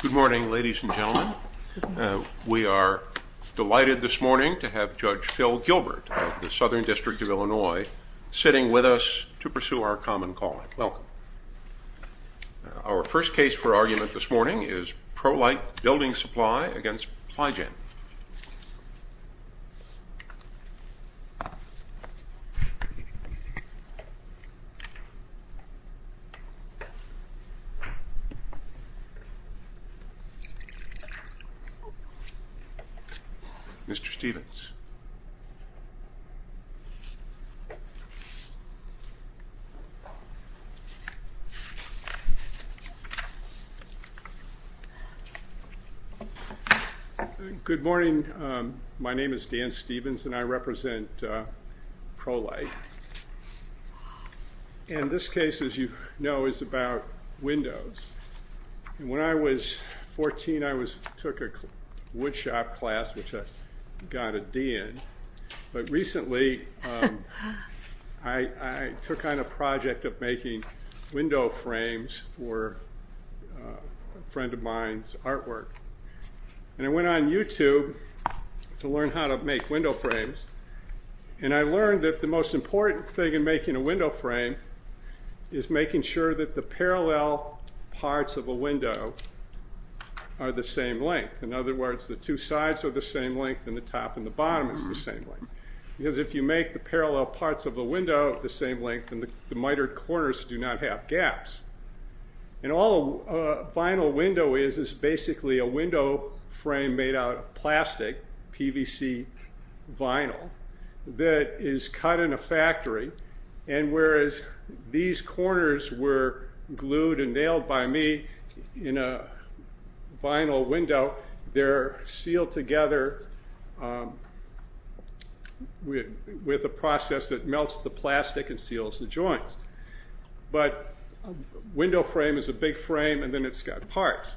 Good morning, ladies and gentlemen. We are delighted this morning to have Judge Phil Gilbert of the Southern District of Illinois sitting with us to pursue our common calling. Welcome. Our first case for argument this morning is ProLite Building Supply v. Ply Gem. Mr. Stevens. Good morning. My name is Dan Stevens and I represent ProLite. And this case, as you know, is about windows. When I was 14, I took a woodshop class, which I got a D in. But recently, I took on a project of making window frames for a friend of mine's artwork. And I went on YouTube to learn how to make window frames. And I learned that the most important thing in making a window frame is making sure that the parallel parts of a window are the same length. In other words, the two sides are the same length and the top and the bottom is the same length. Because if you make the parallel parts of a window the same length, then the mitered corners do not have gaps. And all a vinyl window is is basically a window frame made out of plastic, PVC vinyl, that is cut in a factory. And whereas these corners were glued and nailed by me in a vinyl window, they're sealed together with a process that melts the plastic and seals the joints. But a window frame is a big frame and then it's got parts.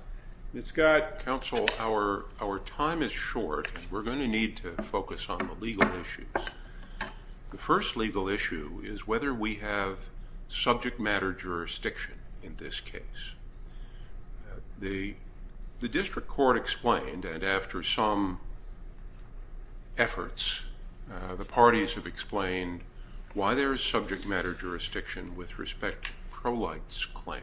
Counsel, our time is short. We're going to need to focus on the legal issues. The first legal issue is whether we have subject matter jurisdiction in this case. The district court explained, and after some efforts, the parties have explained why there is subject matter jurisdiction with respect to Prolite's claim.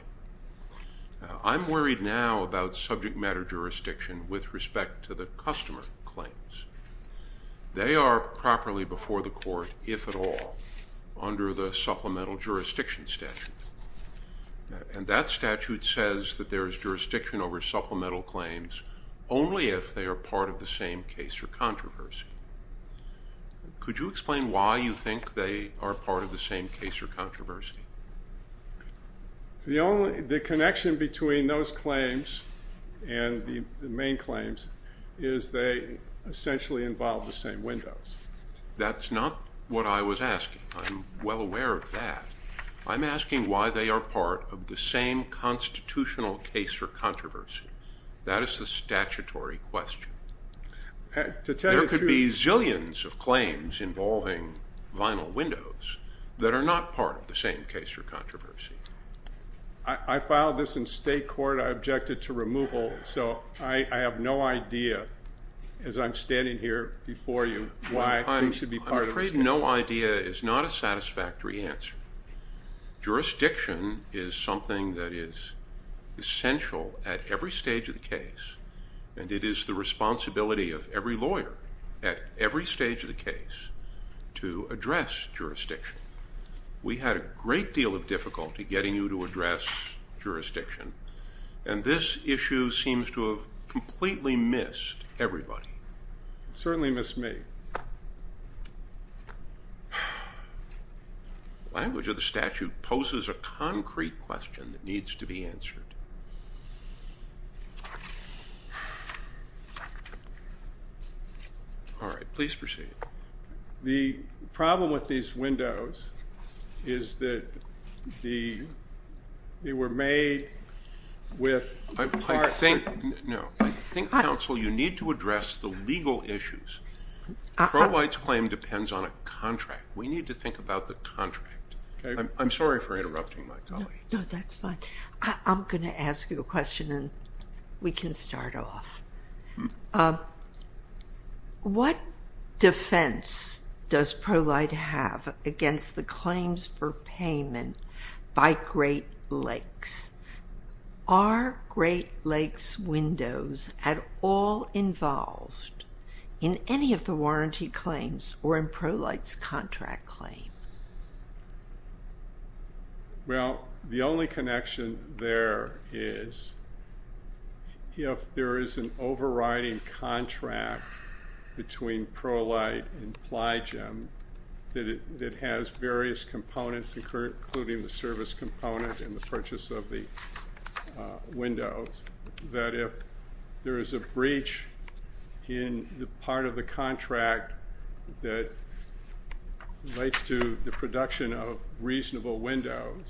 I'm worried now about subject matter jurisdiction with respect to the customer claims. They are properly before the court, if at all, under the supplemental jurisdiction statute. And that statute says that there is jurisdiction over supplemental claims only if they are part of the same case or controversy. Could you explain why you think they are part of the same case or controversy? The connection between those claims and the main claims is they essentially involve the same windows. That's not what I was asking. I'm well aware of that. I'm asking why they are part of the same constitutional case or controversy. That is the statutory question. There could be zillions of claims involving vinyl windows that are not part of the same case or controversy. I filed this in state court. I objected to removal. So I have no idea, as I'm standing here before you, why they should be part of this case. Your no idea is not a satisfactory answer. Jurisdiction is something that is essential at every stage of the case, and it is the responsibility of every lawyer at every stage of the case to address jurisdiction. We had a great deal of difficulty getting you to address jurisdiction, and this issue seems to have completely missed everybody. It certainly missed me. The language of the statute poses a concrete question that needs to be answered. All right, please proceed. The problem with these windows is that they were made with parts. I think, counsel, you need to address the legal issues. Pro-Lite's claim depends on a contract. We need to think about the contract. I'm sorry for interrupting my colleague. No, that's fine. I'm going to ask you a question, and we can start off. What defense does Pro-Lite have against the claims for payment by Great Lakes? Are Great Lakes windows at all involved in any of the warranty claims or in Pro-Lite's contract claim? Well, the only connection there is if there is an overriding contract between Pro-Lite and Plygym that has various components, including the service component and the purchase of the windows, that if there is a breach in the part of the contract that relates to the production of reasonable windows,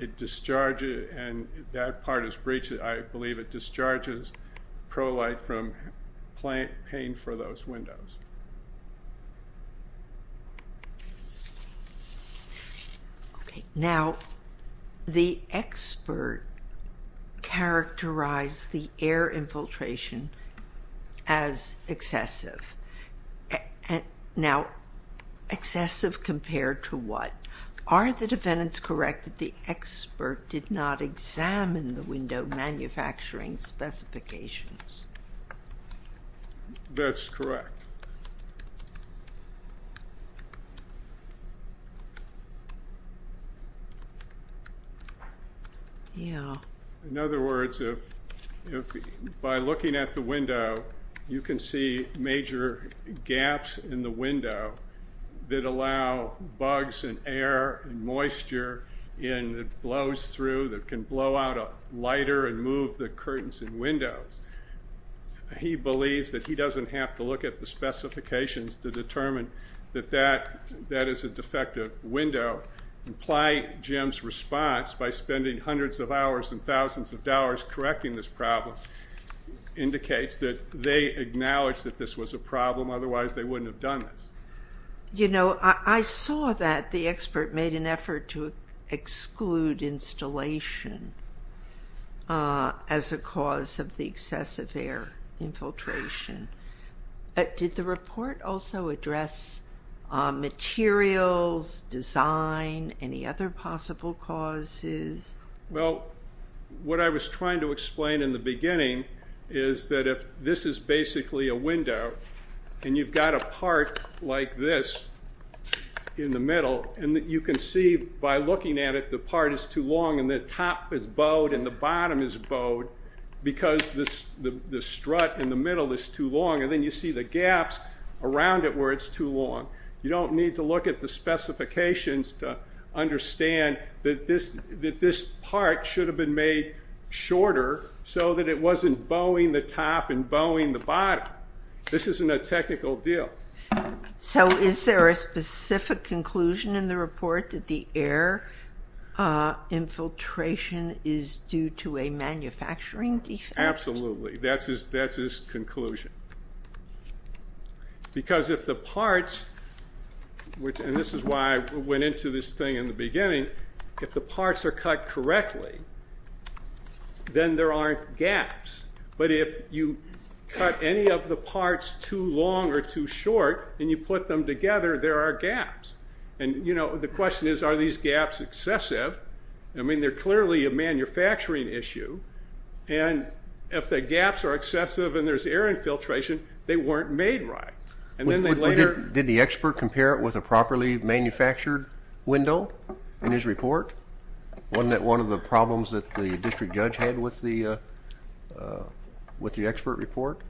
it discharges, and that part is breached. I believe it discharges Pro-Lite from paying for those windows. Now, the expert characterized the air infiltration as excessive. Now, excessive compared to what? Are the defendants correct that the expert did not examine the window manufacturing specifications? That's correct. Yeah. In other words, by looking at the window, you can see major gaps in the window that allow bugs and air and moisture in that blows through, that can blow out a lighter and move the curtains and windows. He believes that he doesn't have to look at the specifications to determine that that is a defective window. Plygym's response by spending hundreds of hours and thousands of dollars correcting this problem indicates that they acknowledge that this was a problem. Otherwise, they wouldn't have done this. You know, I saw that the expert made an effort to exclude installation as a cause of the excessive air infiltration. Did the report also address materials, design, any other possible causes? Well, what I was trying to explain in the beginning is that if this is basically a window and you've got a part like this in the middle, and you can see by looking at it, the part is too long and the top is bowed and the bottom is bowed because the strut in the middle is too long, and then you see the gaps around it where it's too long. You don't need to look at the specifications to understand that this part should have been made shorter so that it wasn't bowing the top and bowing the bottom. This isn't a technical deal. So is there a specific conclusion in the report that the air infiltration is due to a manufacturing defect? Absolutely. That's his conclusion. Because if the parts, and this is why I went into this thing in the beginning, if the parts are cut correctly, then there aren't gaps. But if you cut any of the parts too long or too short and you put them together, there are gaps. And, you know, the question is, are these gaps excessive? I mean, they're clearly a manufacturing issue, and if the gaps are excessive and there's air infiltration, they weren't made right. Did the expert compare it with a properly manufactured window in his report, one of the problems that the district judge had with the expert report?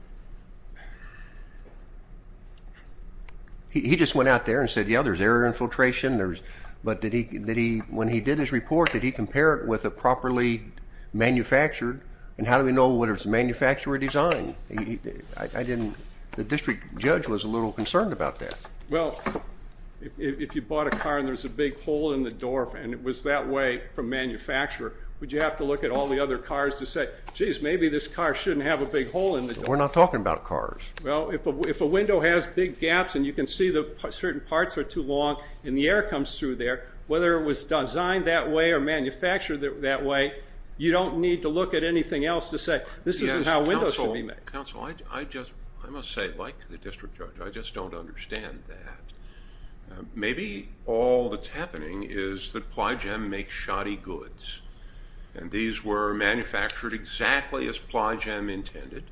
He just went out there and said, yeah, there's air infiltration, but when he did his report, did he compare it with a properly manufactured and how do we know whether it's manufactured or designed? The district judge was a little concerned about that. Well, if you bought a car and there's a big hole in the door and it was that way from manufacturer, would you have to look at all the other cars to say, geez, maybe this car shouldn't have a big hole in the door? We're not talking about cars. Well, if a window has big gaps and you can see certain parts are too long and the air comes through there, whether it was designed that way or manufactured that way, you don't need to look at anything else to say, this isn't how windows should be made. Council, I must say, like the district judge, I just don't understand that. Maybe all that's happening is that Plygem makes shoddy goods, and these were manufactured exactly as Plygem intended,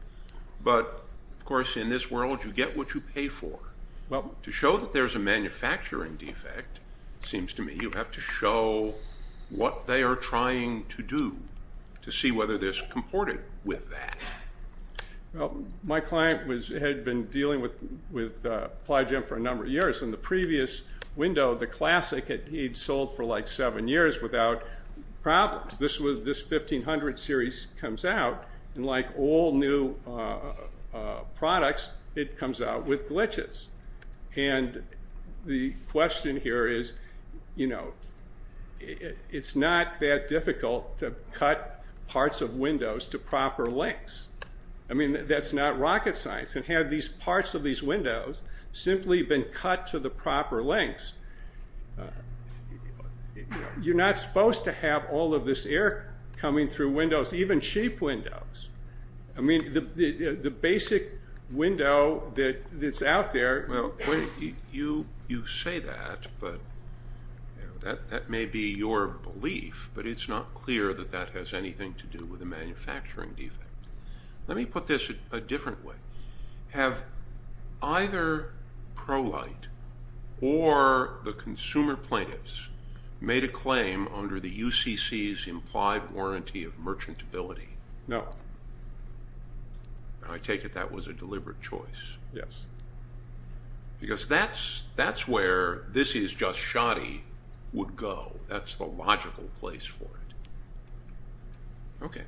but, of course, in this world you get what you pay for. To show that there's a manufacturing defect, it seems to me, you have to show what they are trying to do to see whether there's comportment with that. My client had been dealing with Plygem for a number of years, and the previous window, the classic, he'd sold for like seven years without problems. This 1500 series comes out, and like all new products, it comes out with glitches. And the question here is, you know, it's not that difficult to cut parts of windows to proper lengths. I mean, that's not rocket science. And had these parts of these windows simply been cut to the proper lengths, you're not supposed to have all of this air coming through windows, even cheap windows. I mean, the basic window that's out there. Well, you say that, but that may be your belief, but it's not clear that that has anything to do with a manufacturing defect. Let me put this a different way. Have either Prolite or the consumer plaintiffs made a claim under the UCC's implied warranty of merchantability? No. I take it that was a deliberate choice. Yes. Because that's where this is just shoddy would go. That's the logical place for it. Okay.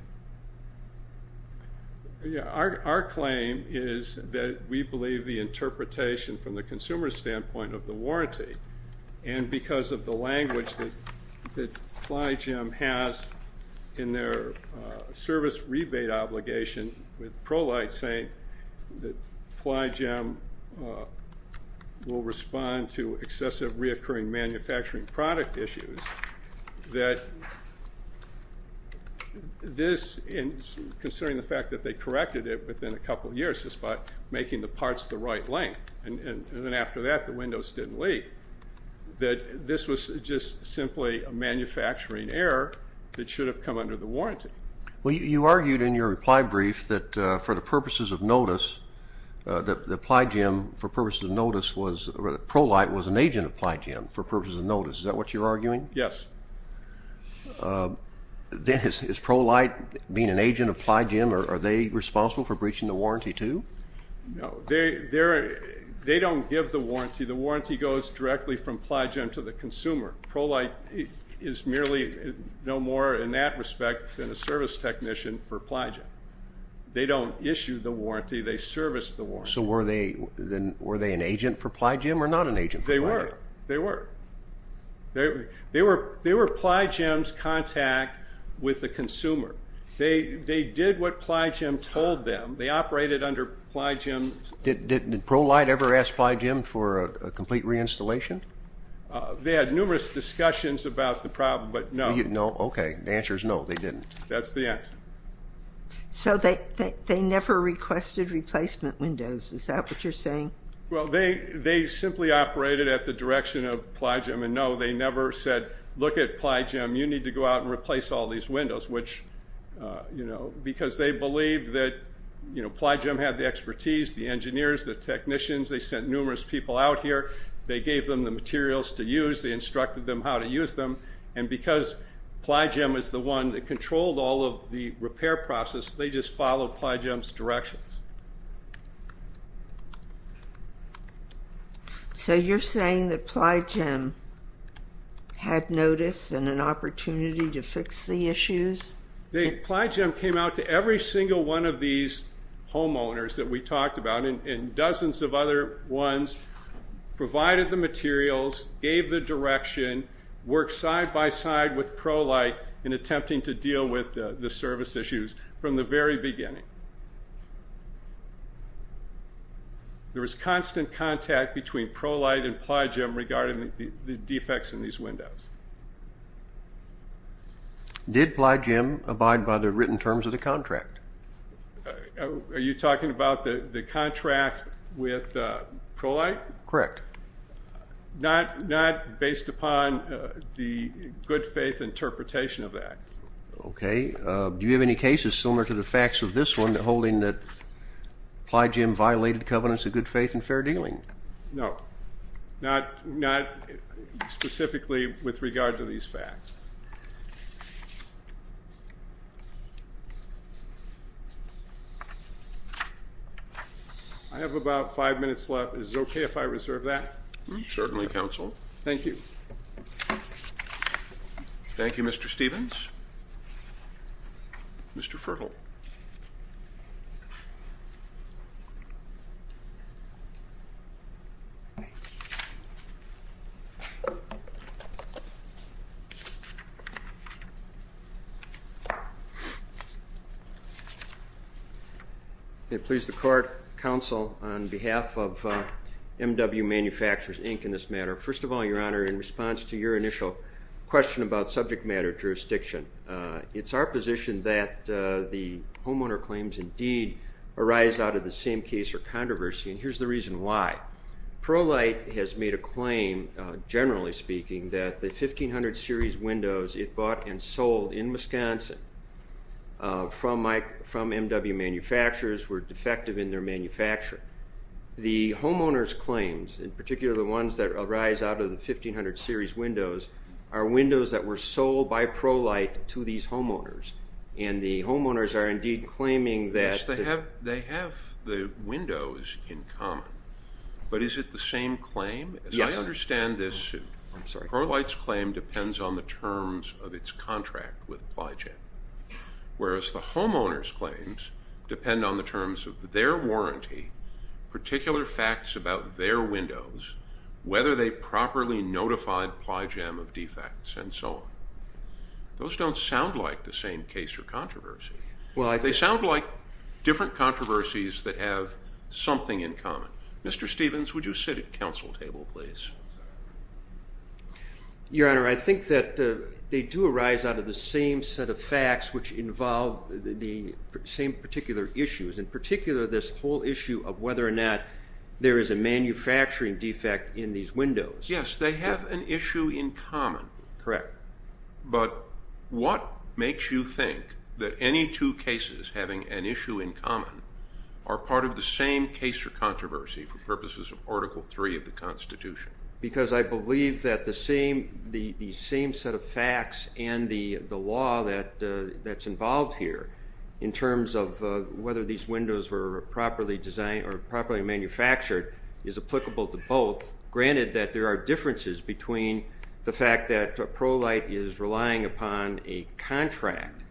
Our claim is that we believe the interpretation from the consumer standpoint of the warranty, and because of the language that Plygem has in their service rebate obligation with Prolite saying that Plygem will respond to excessive reoccurring manufacturing product issues, that this, and considering the fact that they corrected it within a couple of years, by making the parts the right length, and then after that the windows didn't leak, that this was just simply a manufacturing error that should have come under the warranty. Well, you argued in your reply brief that for the purposes of notice, that Prolite was an agent of Plygem for purposes of notice. Is that what you're arguing? Yes. Then is Prolite being an agent of Plygem? Are they responsible for breaching the warranty too? No. They don't give the warranty. The warranty goes directly from Plygem to the consumer. Prolite is merely no more in that respect than a service technician for Plygem. They don't issue the warranty. They service the warranty. So were they an agent for Plygem or not an agent for Plygem? They were. They were. They were Plygem's contact with the consumer. They did what Plygem told them. They operated under Plygem. Did Prolite ever ask Plygem for a complete reinstallation? They had numerous discussions about the problem, but no. No? Okay. The answer is no, they didn't. That's the answer. So they never requested replacement windows. Is that what you're saying? Well, they simply operated at the direction of Plygem, and no, they never said, look at Plygem, you need to go out and replace all these windows, because they believed that Plygem had the expertise, the engineers, the technicians. They sent numerous people out here. They gave them the materials to use. They instructed them how to use them. And because Plygem is the one that controlled all of the repair process, they just followed Plygem's directions. So you're saying that Plygem had notice and an opportunity to fix the issues? Plygem came out to every single one of these homeowners that we talked about and dozens of other ones, provided the materials, gave the direction, worked side by side with Prolite in attempting to deal with the service issues from the very beginning. There was constant contact between Prolite and Plygem regarding the defects in these windows. Did Plygem abide by the written terms of the contract? Are you talking about the contract with Prolite? Correct. Not based upon the good faith interpretation of that. Okay. Do you have any cases similar to the facts of this one holding that Plygem violated covenants of good faith and fair dealing? No, not specifically with regard to these facts. I have about five minutes left. Is it okay if I reserve that? Certainly, counsel. Thank you. Thank you, Mr. Stevens. Mr. Furholt. May it please the Court, counsel, on behalf of M.W. Manufacturers, Inc., in this matter, first of all, Your Honor, in response to your initial question about subject matter jurisdiction, it's our position that the homeowner claims indeed arise out of the same case or controversy, and here's the reason why. Prolite has made a claim, generally speaking, that the 1500 series windows it bought and sold in Wisconsin from M.W. Manufacturers were defective in their manufacture. The homeowner's claims, in particular the ones that arise out of the 1500 series windows, are windows that were sold by Prolite to these homeowners, and the homeowners are indeed claiming that. Yes, they have the windows in common, but is it the same claim? Yes, Your Honor. As I understand this, Prolite's claim depends on the terms of its contract with Plygem, whereas the homeowner's claims depend on the terms of their warranty, particular facts about their windows, whether they properly notified Plygem of defects, and so on. Those don't sound like the same case or controversy. They sound like different controversies that have something in common. Mr. Stevens, would you sit at the counsel table, please? Your Honor, I think that they do arise out of the same set of facts which involve the same particular issues, in particular, this whole issue of whether or not there is a manufacturing defect in these windows. Yes, they have an issue in common. Correct. But what makes you think that any two cases having an issue in common are part of the same case or controversy for purposes of Article III of the Constitution? Because I believe that the same set of facts and the law that's involved here in terms of whether these windows were properly designed or properly manufactured is applicable to both, granted that there are differences between the fact that Prolite is relying upon a contract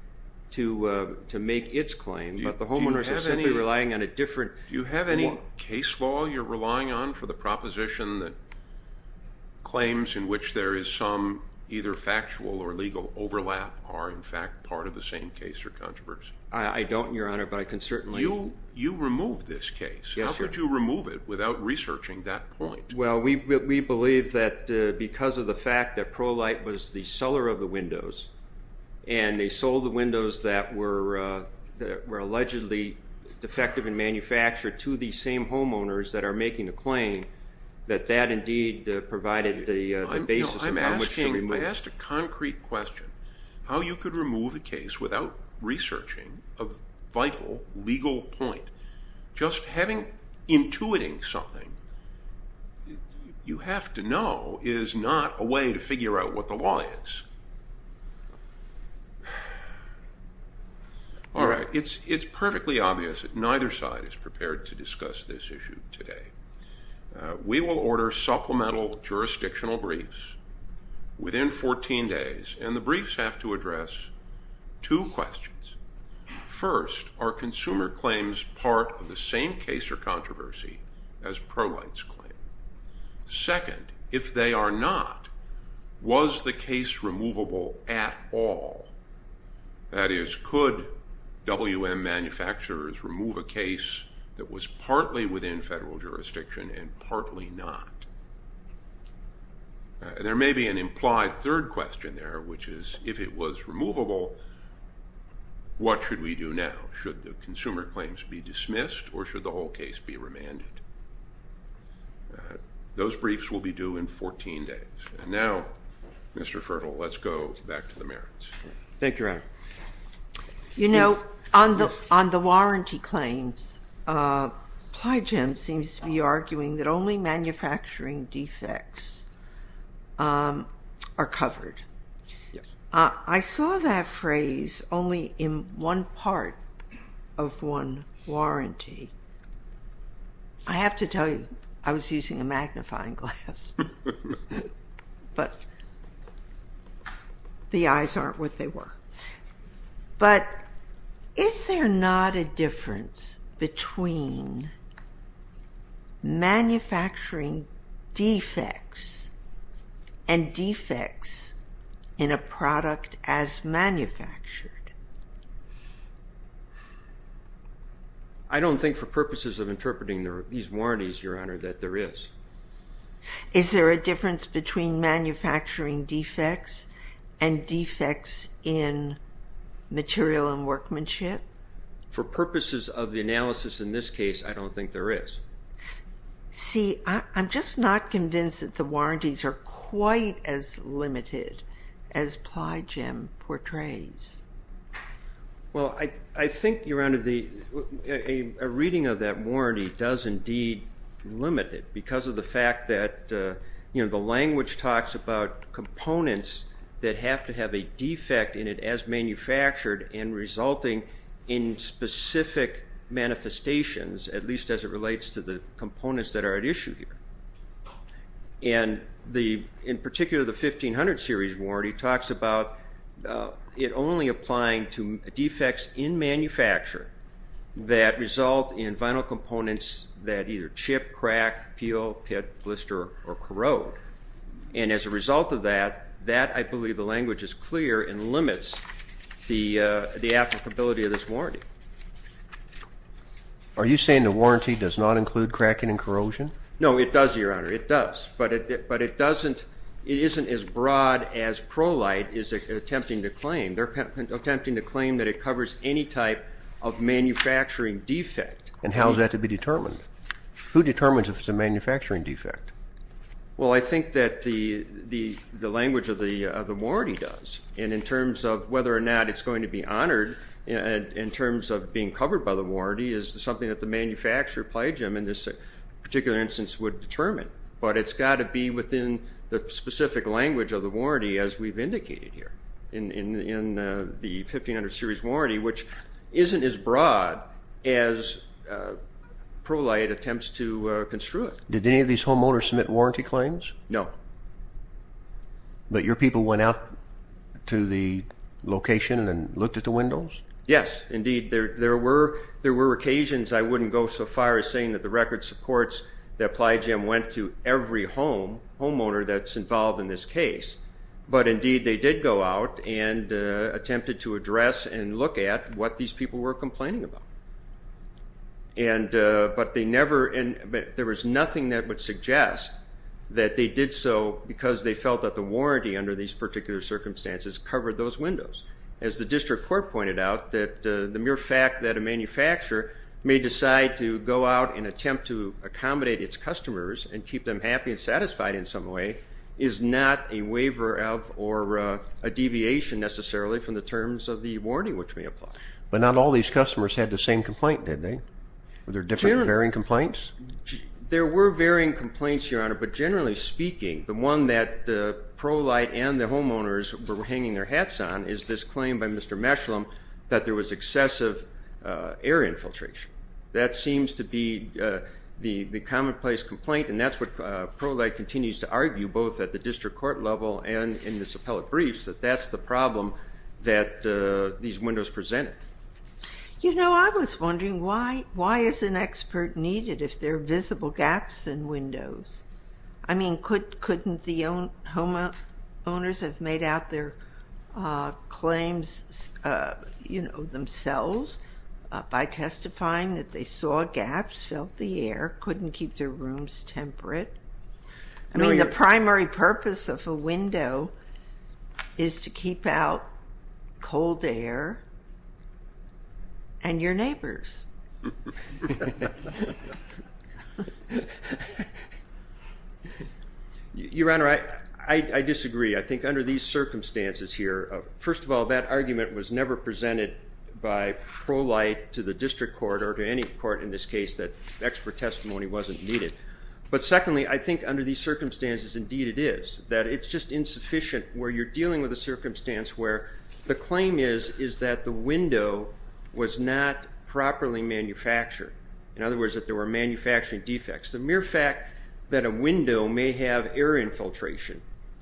to make its claim, but the homeowners are simply relying on a different law. Do you have any case law you're relying on for the proposition that claims in which there is some either factual or legal overlap are, in fact, part of the same case or controversy? I don't, Your Honor, but I can certainly. You removed this case. Yes, sir. How could you remove it without researching that point? Well, we believe that because of the fact that Prolite was the seller of the windows and they sold the windows that were allegedly defective in manufacture to the same homeowners that are making the claim, that that indeed provided the basis of how much to remove. I asked a concrete question, how you could remove a case without researching a vital legal point. Just having, intuiting something, you have to know is not a way to figure out what the law is. All right. It's perfectly obvious that neither side is prepared to discuss this issue today. We will order supplemental jurisdictional briefs within 14 days, and the briefs have to address two questions. First, are consumer claims part of the same case or controversy as Prolite's claim? Second, if they are not, was the case removable at all? That is, could WM manufacturers remove a case that was partly within federal jurisdiction and partly not? There may be an implied third question there, which is if it was removable, what should we do now? Should the consumer claims be dismissed or should the whole case be remanded? Those briefs will be due in 14 days. And now, Mr. Fertil, let's go back to the merits. Thank you, Your Honor. You know, on the warranty claims, Plygym seems to be arguing that only manufacturing defects are covered. I saw that phrase only in one part of one warranty. I have to tell you, I was using a magnifying glass. But the eyes aren't what they were. But is there not a difference between manufacturing defects and defects in a product as manufactured? I don't think, for purposes of interpreting these warranties, Your Honor, that there is. Is there a difference between manufacturing defects and defects in material and workmanship? For purposes of the analysis in this case, I don't think there is. See, I'm just not convinced that the warranties are quite as limited as Plygym portrays. Well, I think, Your Honor, a reading of that warranty does indeed limit it because of the fact that, you know, the language talks about components that have to have a defect in it as manufactured and resulting in specific manifestations, at least as it relates to the components that are at issue here. And in particular, the 1500 Series warranty talks about it only applying to defects in manufacture that result in vinyl components that either chip, crack, peel, pit, blister, or corrode. And as a result of that, that, I believe, the language is clear and limits the applicability of this warranty. Are you saying the warranty does not include cracking and corrosion? No, it does, Your Honor, it does. But it doesn't, it isn't as broad as Prolite is attempting to claim. They're attempting to claim that it covers any type of manufacturing defect. And how is that to be determined? Who determines if it's a manufacturing defect? Well, I think that the language of the warranty does. And in terms of whether or not it's going to be honored, in terms of being covered by the warranty, is something that the manufacturer, Plygym, in this particular instance, would determine. But it's got to be within the specific language of the warranty, as we've indicated here, in the 1500 Series warranty, which isn't as broad as Prolite attempts to construe it. Did any of these homeowners submit warranty claims? No. But your people went out to the location and looked at the windows? Yes, indeed. There were occasions I wouldn't go so far as saying that the record supports that Plygym went to every homeowner that's involved in this case. But, indeed, they did go out and attempted to address and look at what these people were complaining about. But they never – there was nothing that would suggest that they did so because they felt that the warranty, under these particular circumstances, covered those windows. As the district court pointed out, the mere fact that a manufacturer may decide to go out and attempt to accommodate its customers and keep them happy and satisfied in some way is not a waiver of or a deviation, necessarily, from the terms of the warranty which may apply. But not all these customers had the same complaint, did they? Were there different, varying complaints? There were varying complaints, Your Honor, but generally speaking, the one that Prolite and the homeowners were hanging their hats on is this claim by Mr. Meshlam that there was excessive air infiltration. That seems to be the commonplace complaint, and that's what Prolite continues to argue, both at the district court level and in its appellate briefs, that that's the problem that these windows presented. You know, I was wondering why is an expert needed if there are visible gaps in windows? I mean, couldn't the homeowners have made out their claims themselves by testifying that they saw gaps, felt the air, couldn't keep their rooms temperate? I mean, the primary purpose of a window is to keep out cold air and your neighbors. Your Honor, I disagree. I think under these circumstances here, first of all, that argument was never presented by Prolite to the district court or to any court in this case that expert testimony wasn't needed. But secondly, I think under these circumstances, indeed it is, that it's just insufficient where you're dealing with a circumstance where the claim is that the window was not properly manufactured. In other words, that there were manufacturing defects. The mere fact that a window may have air infiltration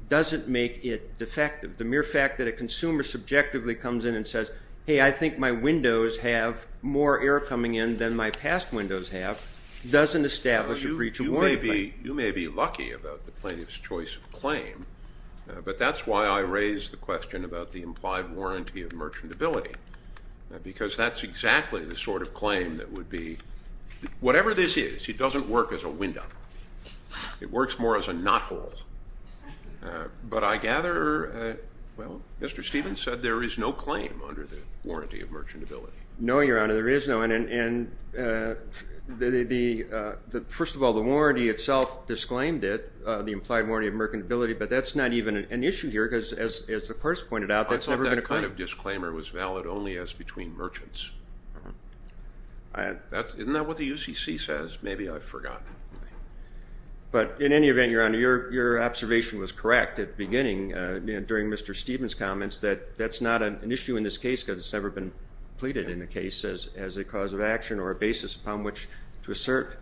doesn't make it defective. The mere fact that a consumer subjectively comes in and says, hey, I think my windows have more air coming in than my past windows have, doesn't establish a breach of warranty. You may be lucky about the plaintiff's choice of claim, but that's why I raised the question about the implied warranty of merchantability because that's exactly the sort of claim that would be, whatever this is, it doesn't work as a window. It works more as a knothole. But I gather, well, Mr. Stevens said there is no claim under the warranty of merchantability. No, Your Honor, there is no. And first of all, the warranty itself disclaimed it, the implied warranty of merchantability, but that's not even an issue here because, as the court has pointed out, that's never been a claim. I thought that kind of disclaimer was valid only as between merchants. Isn't that what the UCC says? Maybe I've forgotten. But in any event, Your Honor, your observation was correct at the beginning during Mr. Stevens' comments that that's not an issue in this case because it's never been pleaded in a case as a cause of action or a basis upon which to assert.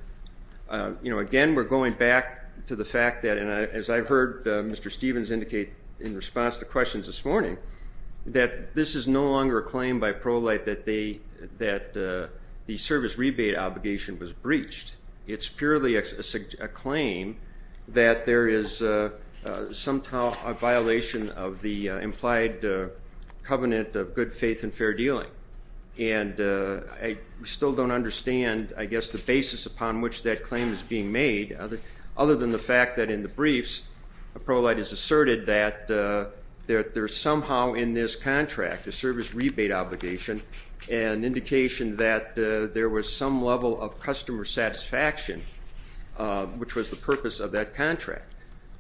Again, we're going back to the fact that, as I've heard Mr. Stevens indicate in response to questions this morning, that this is no longer a claim by Prolite that the service rebate obligation was breached. It's purely a claim that there is somehow a violation of the implied covenant of good faith and fair dealing. And I still don't understand, I guess, the basis upon which that claim is being made, other than the fact that in the briefs Prolite has asserted that there's somehow in this contract a service rebate obligation, an indication that there was some level of customer satisfaction, which was the purpose of that contract.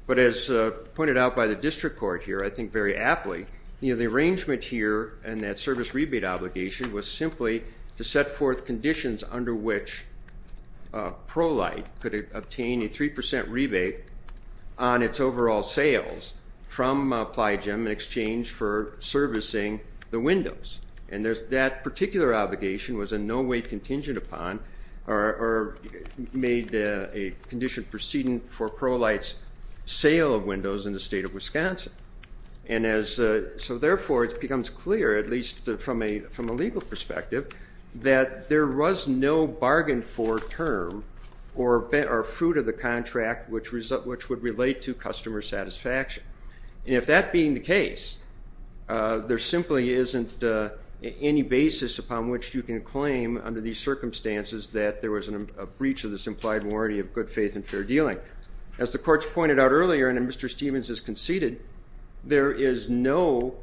But as pointed out by the district court here, I think very aptly, the arrangement here in that service rebate obligation was simply to set forth conditions under which Prolite could obtain a 3% rebate on its overall sales from Applied Gem in exchange for servicing the windows. And that particular obligation was in no way contingent upon or made a condition precedent for Prolite's sale of windows in the state of Wisconsin. And so therefore it becomes clear, at least from a legal perspective, that there was no bargain for term or fruit of the contract which would relate to customer satisfaction. And if that being the case, there simply isn't any basis upon which you can claim under these circumstances that there was a breach of this implied warranty of good faith and fair dealing. As the courts pointed out earlier, and Mr. Stevens has conceded, there is no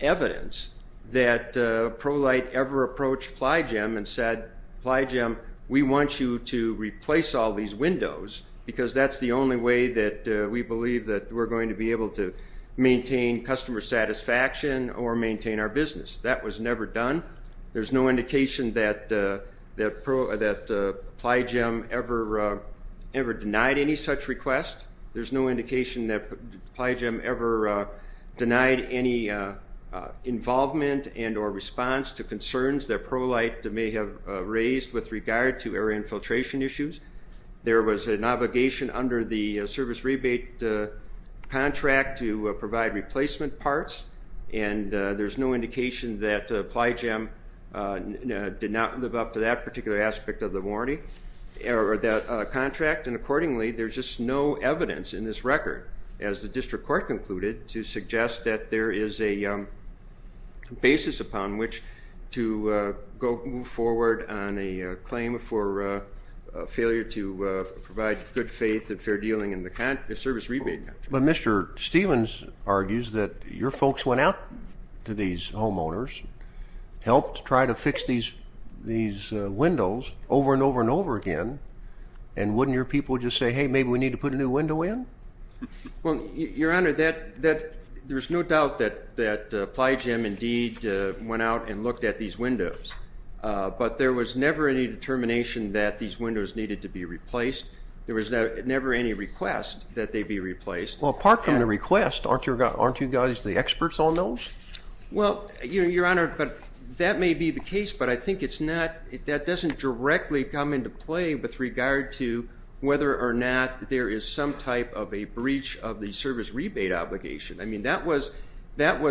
evidence that Prolite ever approached Applied Gem and said, Applied Gem, we want you to replace all these windows because that's the only way we're going to be able to maintain customer satisfaction or maintain our business. That was never done. There's no indication that Applied Gem ever denied any such request. There's no indication that Applied Gem ever denied any involvement and or response to concerns that Prolite may have raised with regard to air infiltration issues. There was an obligation under the service rebate contract to provide replacement parts, and there's no indication that Applied Gem did not live up to that particular aspect of the warranty or that contract. And accordingly, there's just no evidence in this record, as the district court concluded, to suggest that there is a basis upon which to move forward on a claim for failure to provide good faith and fair dealing in the service rebate contract. But Mr. Stevens argues that your folks went out to these homeowners, helped try to fix these windows over and over and over again, and wouldn't your people just say, hey, maybe we need to put a new window in? Well, Your Honor, there's no doubt that Applied Gem indeed went out and looked at these windows, but there was never any determination that these windows needed to be replaced. There was never any request that they be replaced. Well, apart from the request, aren't you guys the experts on those? Well, Your Honor, that may be the case, but I think that doesn't directly come into play with regard to whether or not there is some type of a breach of the service rebate obligation. I mean, that was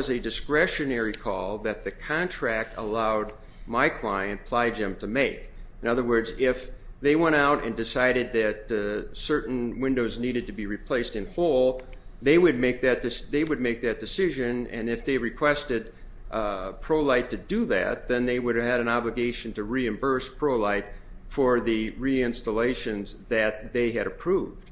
a discretionary call that the contract allowed my client, Applied Gem, to make. In other words, if they went out and decided that certain windows needed to be replaced in full, they would make that decision, and if they requested ProLite to do that, then they would have had an obligation to reimburse ProLite for the reinstallations that they had approved.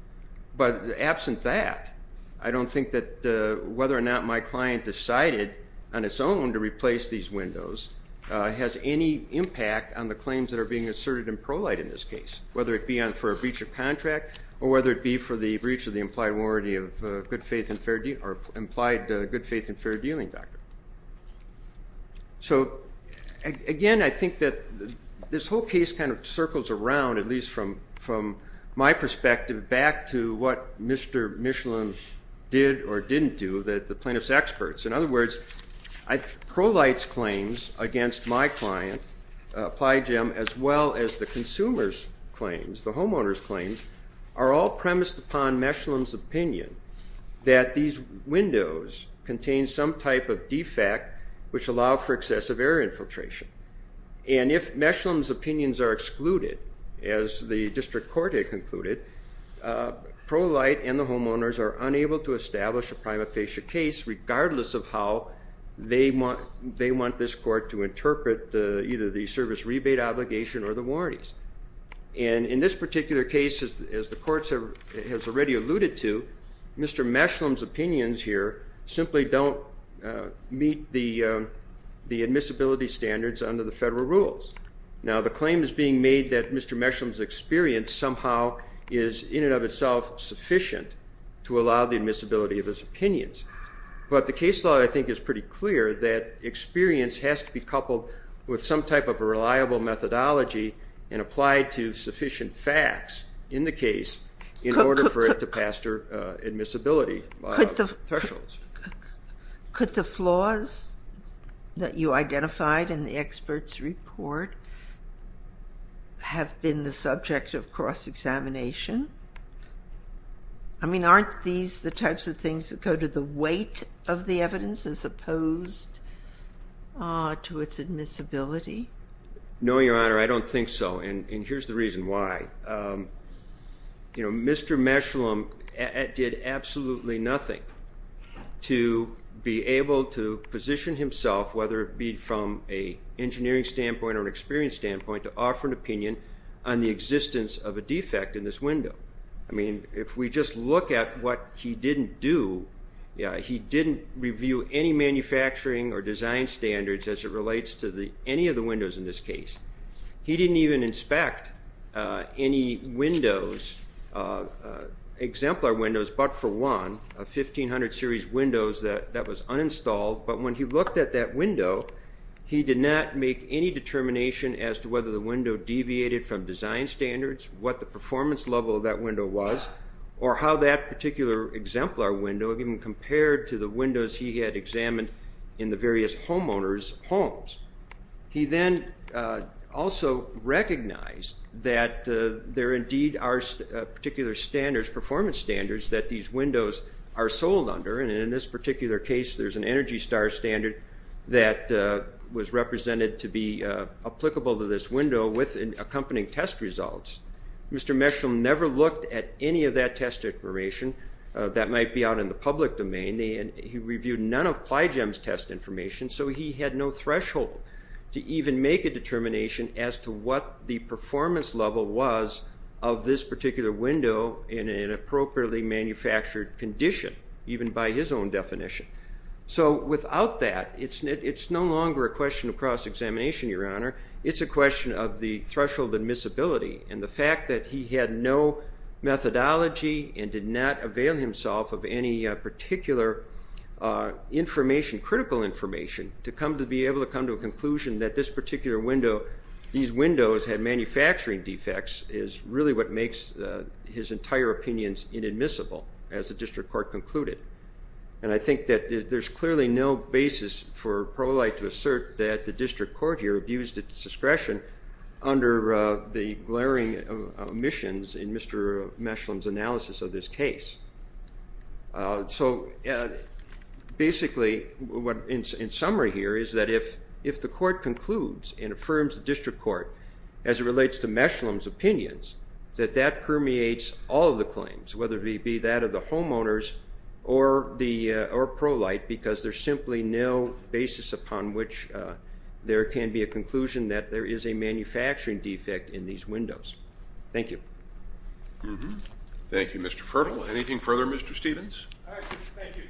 But absent that, I don't think that whether or not my client decided on its own to replace these windows has any impact on the claims that are being asserted in ProLite in this case, whether it be for a breach of contract or whether it be for the breach of the implied good faith and fair dealing doctrine. So, again, I think that this whole case kind of circles around, at least from my perspective, back to what Mr. Michelin did or didn't do, the plaintiff's experts. In other words, ProLite's claims against my client, Applied Gem, as well as the consumer's claims, the homeowner's claims, are all premised upon Michelin's opinion that these windows contain some type of defect which allowed for excessive air infiltration. And if Michelin's opinions are excluded, as the district court had concluded, ProLite and the homeowners are unable to establish a prima facie case regardless of how they want this court to interpret either the service rebate obligation or the warranties. And in this particular case, as the court has already alluded to, Mr. Michelin's opinions here simply don't meet the admissibility standards under the federal rules. Now, the claim is being made that Mr. Michelin's experience somehow is, in and of itself, sufficient to allow the admissibility of his opinions. But the case law, I think, is pretty clear that experience has to be coupled with some type of a reliable methodology and applied to sufficient facts in the case in order for it to pass through admissibility thresholds. Could the flaws that you identified in the expert's report have been the subject of cross-examination? I mean, aren't these the types of things that go to the weight of the evidence as opposed to its admissibility? No, Your Honor, I don't think so. And here's the reason why. You know, Mr. Michelin did absolutely nothing to be able to position himself, whether it be from an engineering standpoint or an experience standpoint, to offer an opinion on the existence of a defect in this window. I mean, if we just look at what he didn't do, he didn't review any manufacturing or design standards as it relates to any of the windows in this case. He didn't even inspect any windows, exemplar windows, but for one, 1,500 series windows that was uninstalled. But when he looked at that window, he did not make any determination as to whether the window deviated from design standards, what the performance level of that window was, or how that particular exemplar window even compared to the windows he had examined in the various homeowners' homes. He then also recognized that there indeed are particular standards, performance standards, that these windows are sold under, and in this particular case there's an ENERGY STAR standard that was represented to be applicable to this window with accompanying test results. Mr. Michelin never looked at any of that test information that might be out in the public domain. He reviewed none of Plygem's test information, so he had no threshold to even make a determination as to what the performance level was of this particular window in an appropriately manufactured condition, even by his own definition. So without that, it's no longer a question of cross-examination, Your Honor. It's a question of the threshold admissibility, and the fact that he had no methodology and did not avail himself of any particular information, critical information, to be able to come to a conclusion that these windows had manufacturing defects is really what makes his entire opinions inadmissible, as the district court concluded. And I think that there's clearly no basis for Prolite to assert that the district court here abused its discretion under the glaring omissions in Mr. Michelin's analysis of this case. So basically, in summary here, is that if the court concludes and affirms the district court, as it relates to Michelin's opinions, that that permeates all of the claims, whether it be that of the homeowners or Prolite, because there's simply no basis upon which there can be a conclusion that there is a manufacturing defect in these windows. Thank you. Thank you, Mr. Fertel. Anything further, Mr. Stevens? Thank you.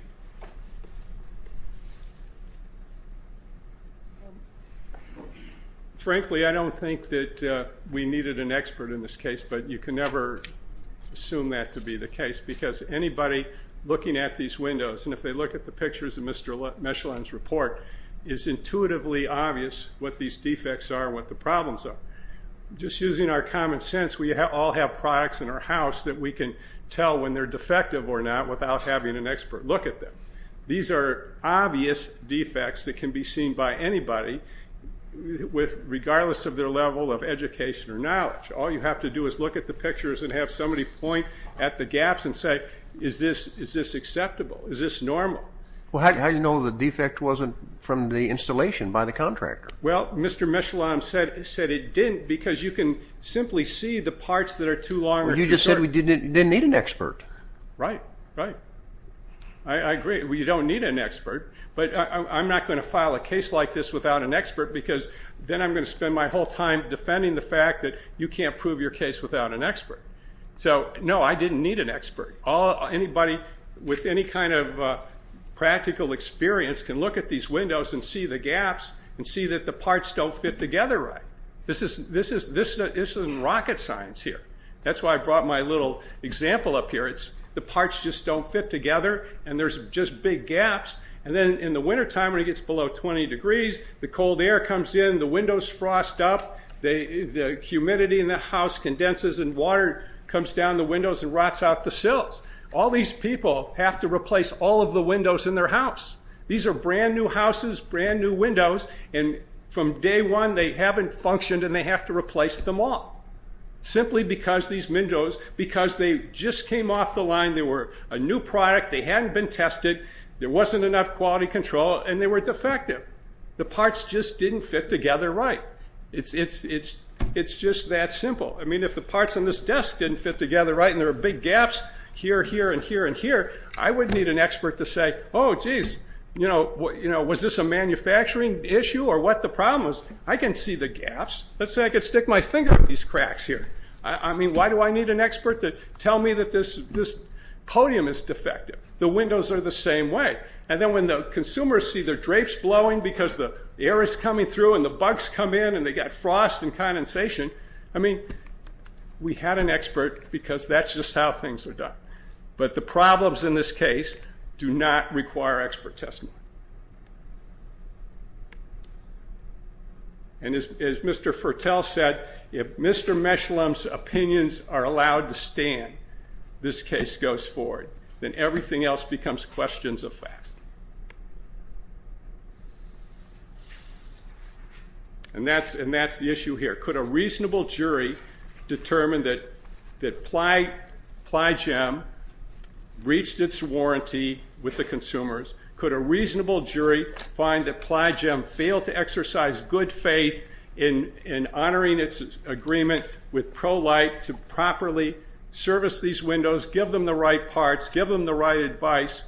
Frankly, I don't think that we needed an expert in this case, but you can never assume that to be the case, because anybody looking at these windows, and if they look at the pictures in Mr. Michelin's report, it's intuitively obvious what these defects are and what the problems are. Just using our common sense, we all have products in our house that we can tell when they're defective or not without having an expert look at them. These are obvious defects that can be seen by anybody, regardless of their level of education or knowledge. All you have to do is look at the pictures and have somebody point at the gaps and say, is this acceptable, is this normal? Well, how do you know the defect wasn't from the installation by the contractor? Well, Mr. Michelin said it didn't, because you can simply see the parts that are too long or too short. Well, you just said we didn't need an expert. Right, right. I agree, we don't need an expert, but I'm not going to file a case like this without an expert, because then I'm going to spend my whole time defending the fact that you can't prove your case without an expert. So, no, I didn't need an expert. Anybody with any kind of practical experience can look at these windows and see the gaps and see that the parts don't fit together right. This isn't rocket science here. That's why I brought my little example up here. The parts just don't fit together, and there's just big gaps, and then in the wintertime when it gets below 20 degrees, the cold air comes in, the windows frost up, the humidity in the house condenses, and water comes down the windows and rots out the sills. All these people have to replace all of the windows in their house. These are brand-new houses, brand-new windows, and from day one they haven't functioned, and they have to replace them all, simply because these windows, because they just came off the line, they were a new product, they hadn't been tested, there wasn't enough quality control, and they were defective. The parts just didn't fit together right. It's just that simple. I mean, if the parts on this desk didn't fit together right, and there were big gaps here, here, and here, and here, I wouldn't need an expert to say, oh, geez, was this a manufacturing issue or what the problem was? I can see the gaps. Let's say I could stick my finger up these cracks here. I mean, why do I need an expert to tell me that this podium is defective? The windows are the same way. And then when the consumers see their drapes blowing because the air is coming through and the bugs come in and they've got frost and condensation, I mean, we had an expert because that's just how things are done. But the problems in this case do not require expert testimony. And as Mr. Fertel said, if Mr. Meshlam's opinions are allowed to stand, this case goes forward. Then everything else becomes questions of fact. And that's the issue here. Could a reasonable jury determine that Plygem reached its warranty with the consumers? Could a reasonable jury find that Plygem failed to exercise good faith in honoring its agreement with ProLite to properly service these windows, give them the right parts, give them the right advice?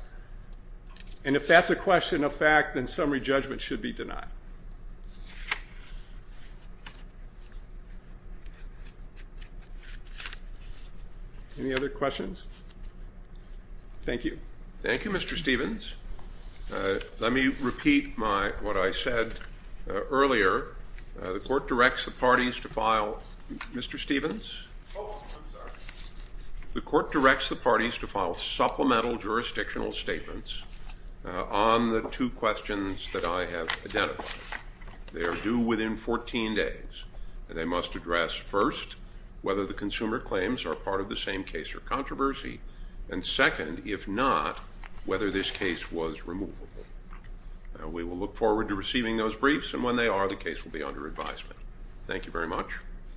And if that's a question of fact, then summary judgment should be denied. Any other questions? Thank you. Thank you, Mr. Stevens. Let me repeat what I said earlier. The court directs the parties to file, Mr. Stevens? Oh, I'm sorry. The court directs the parties to file supplemental jurisdictional statements on the two questions that I have identified. They are due within 14 days, and they must address first whether the consumer claims are part of the same case or controversy, and second, if not, whether this case was removable. We will look forward to receiving those briefs, and when they are, the case will be under advisement. Thank you very much.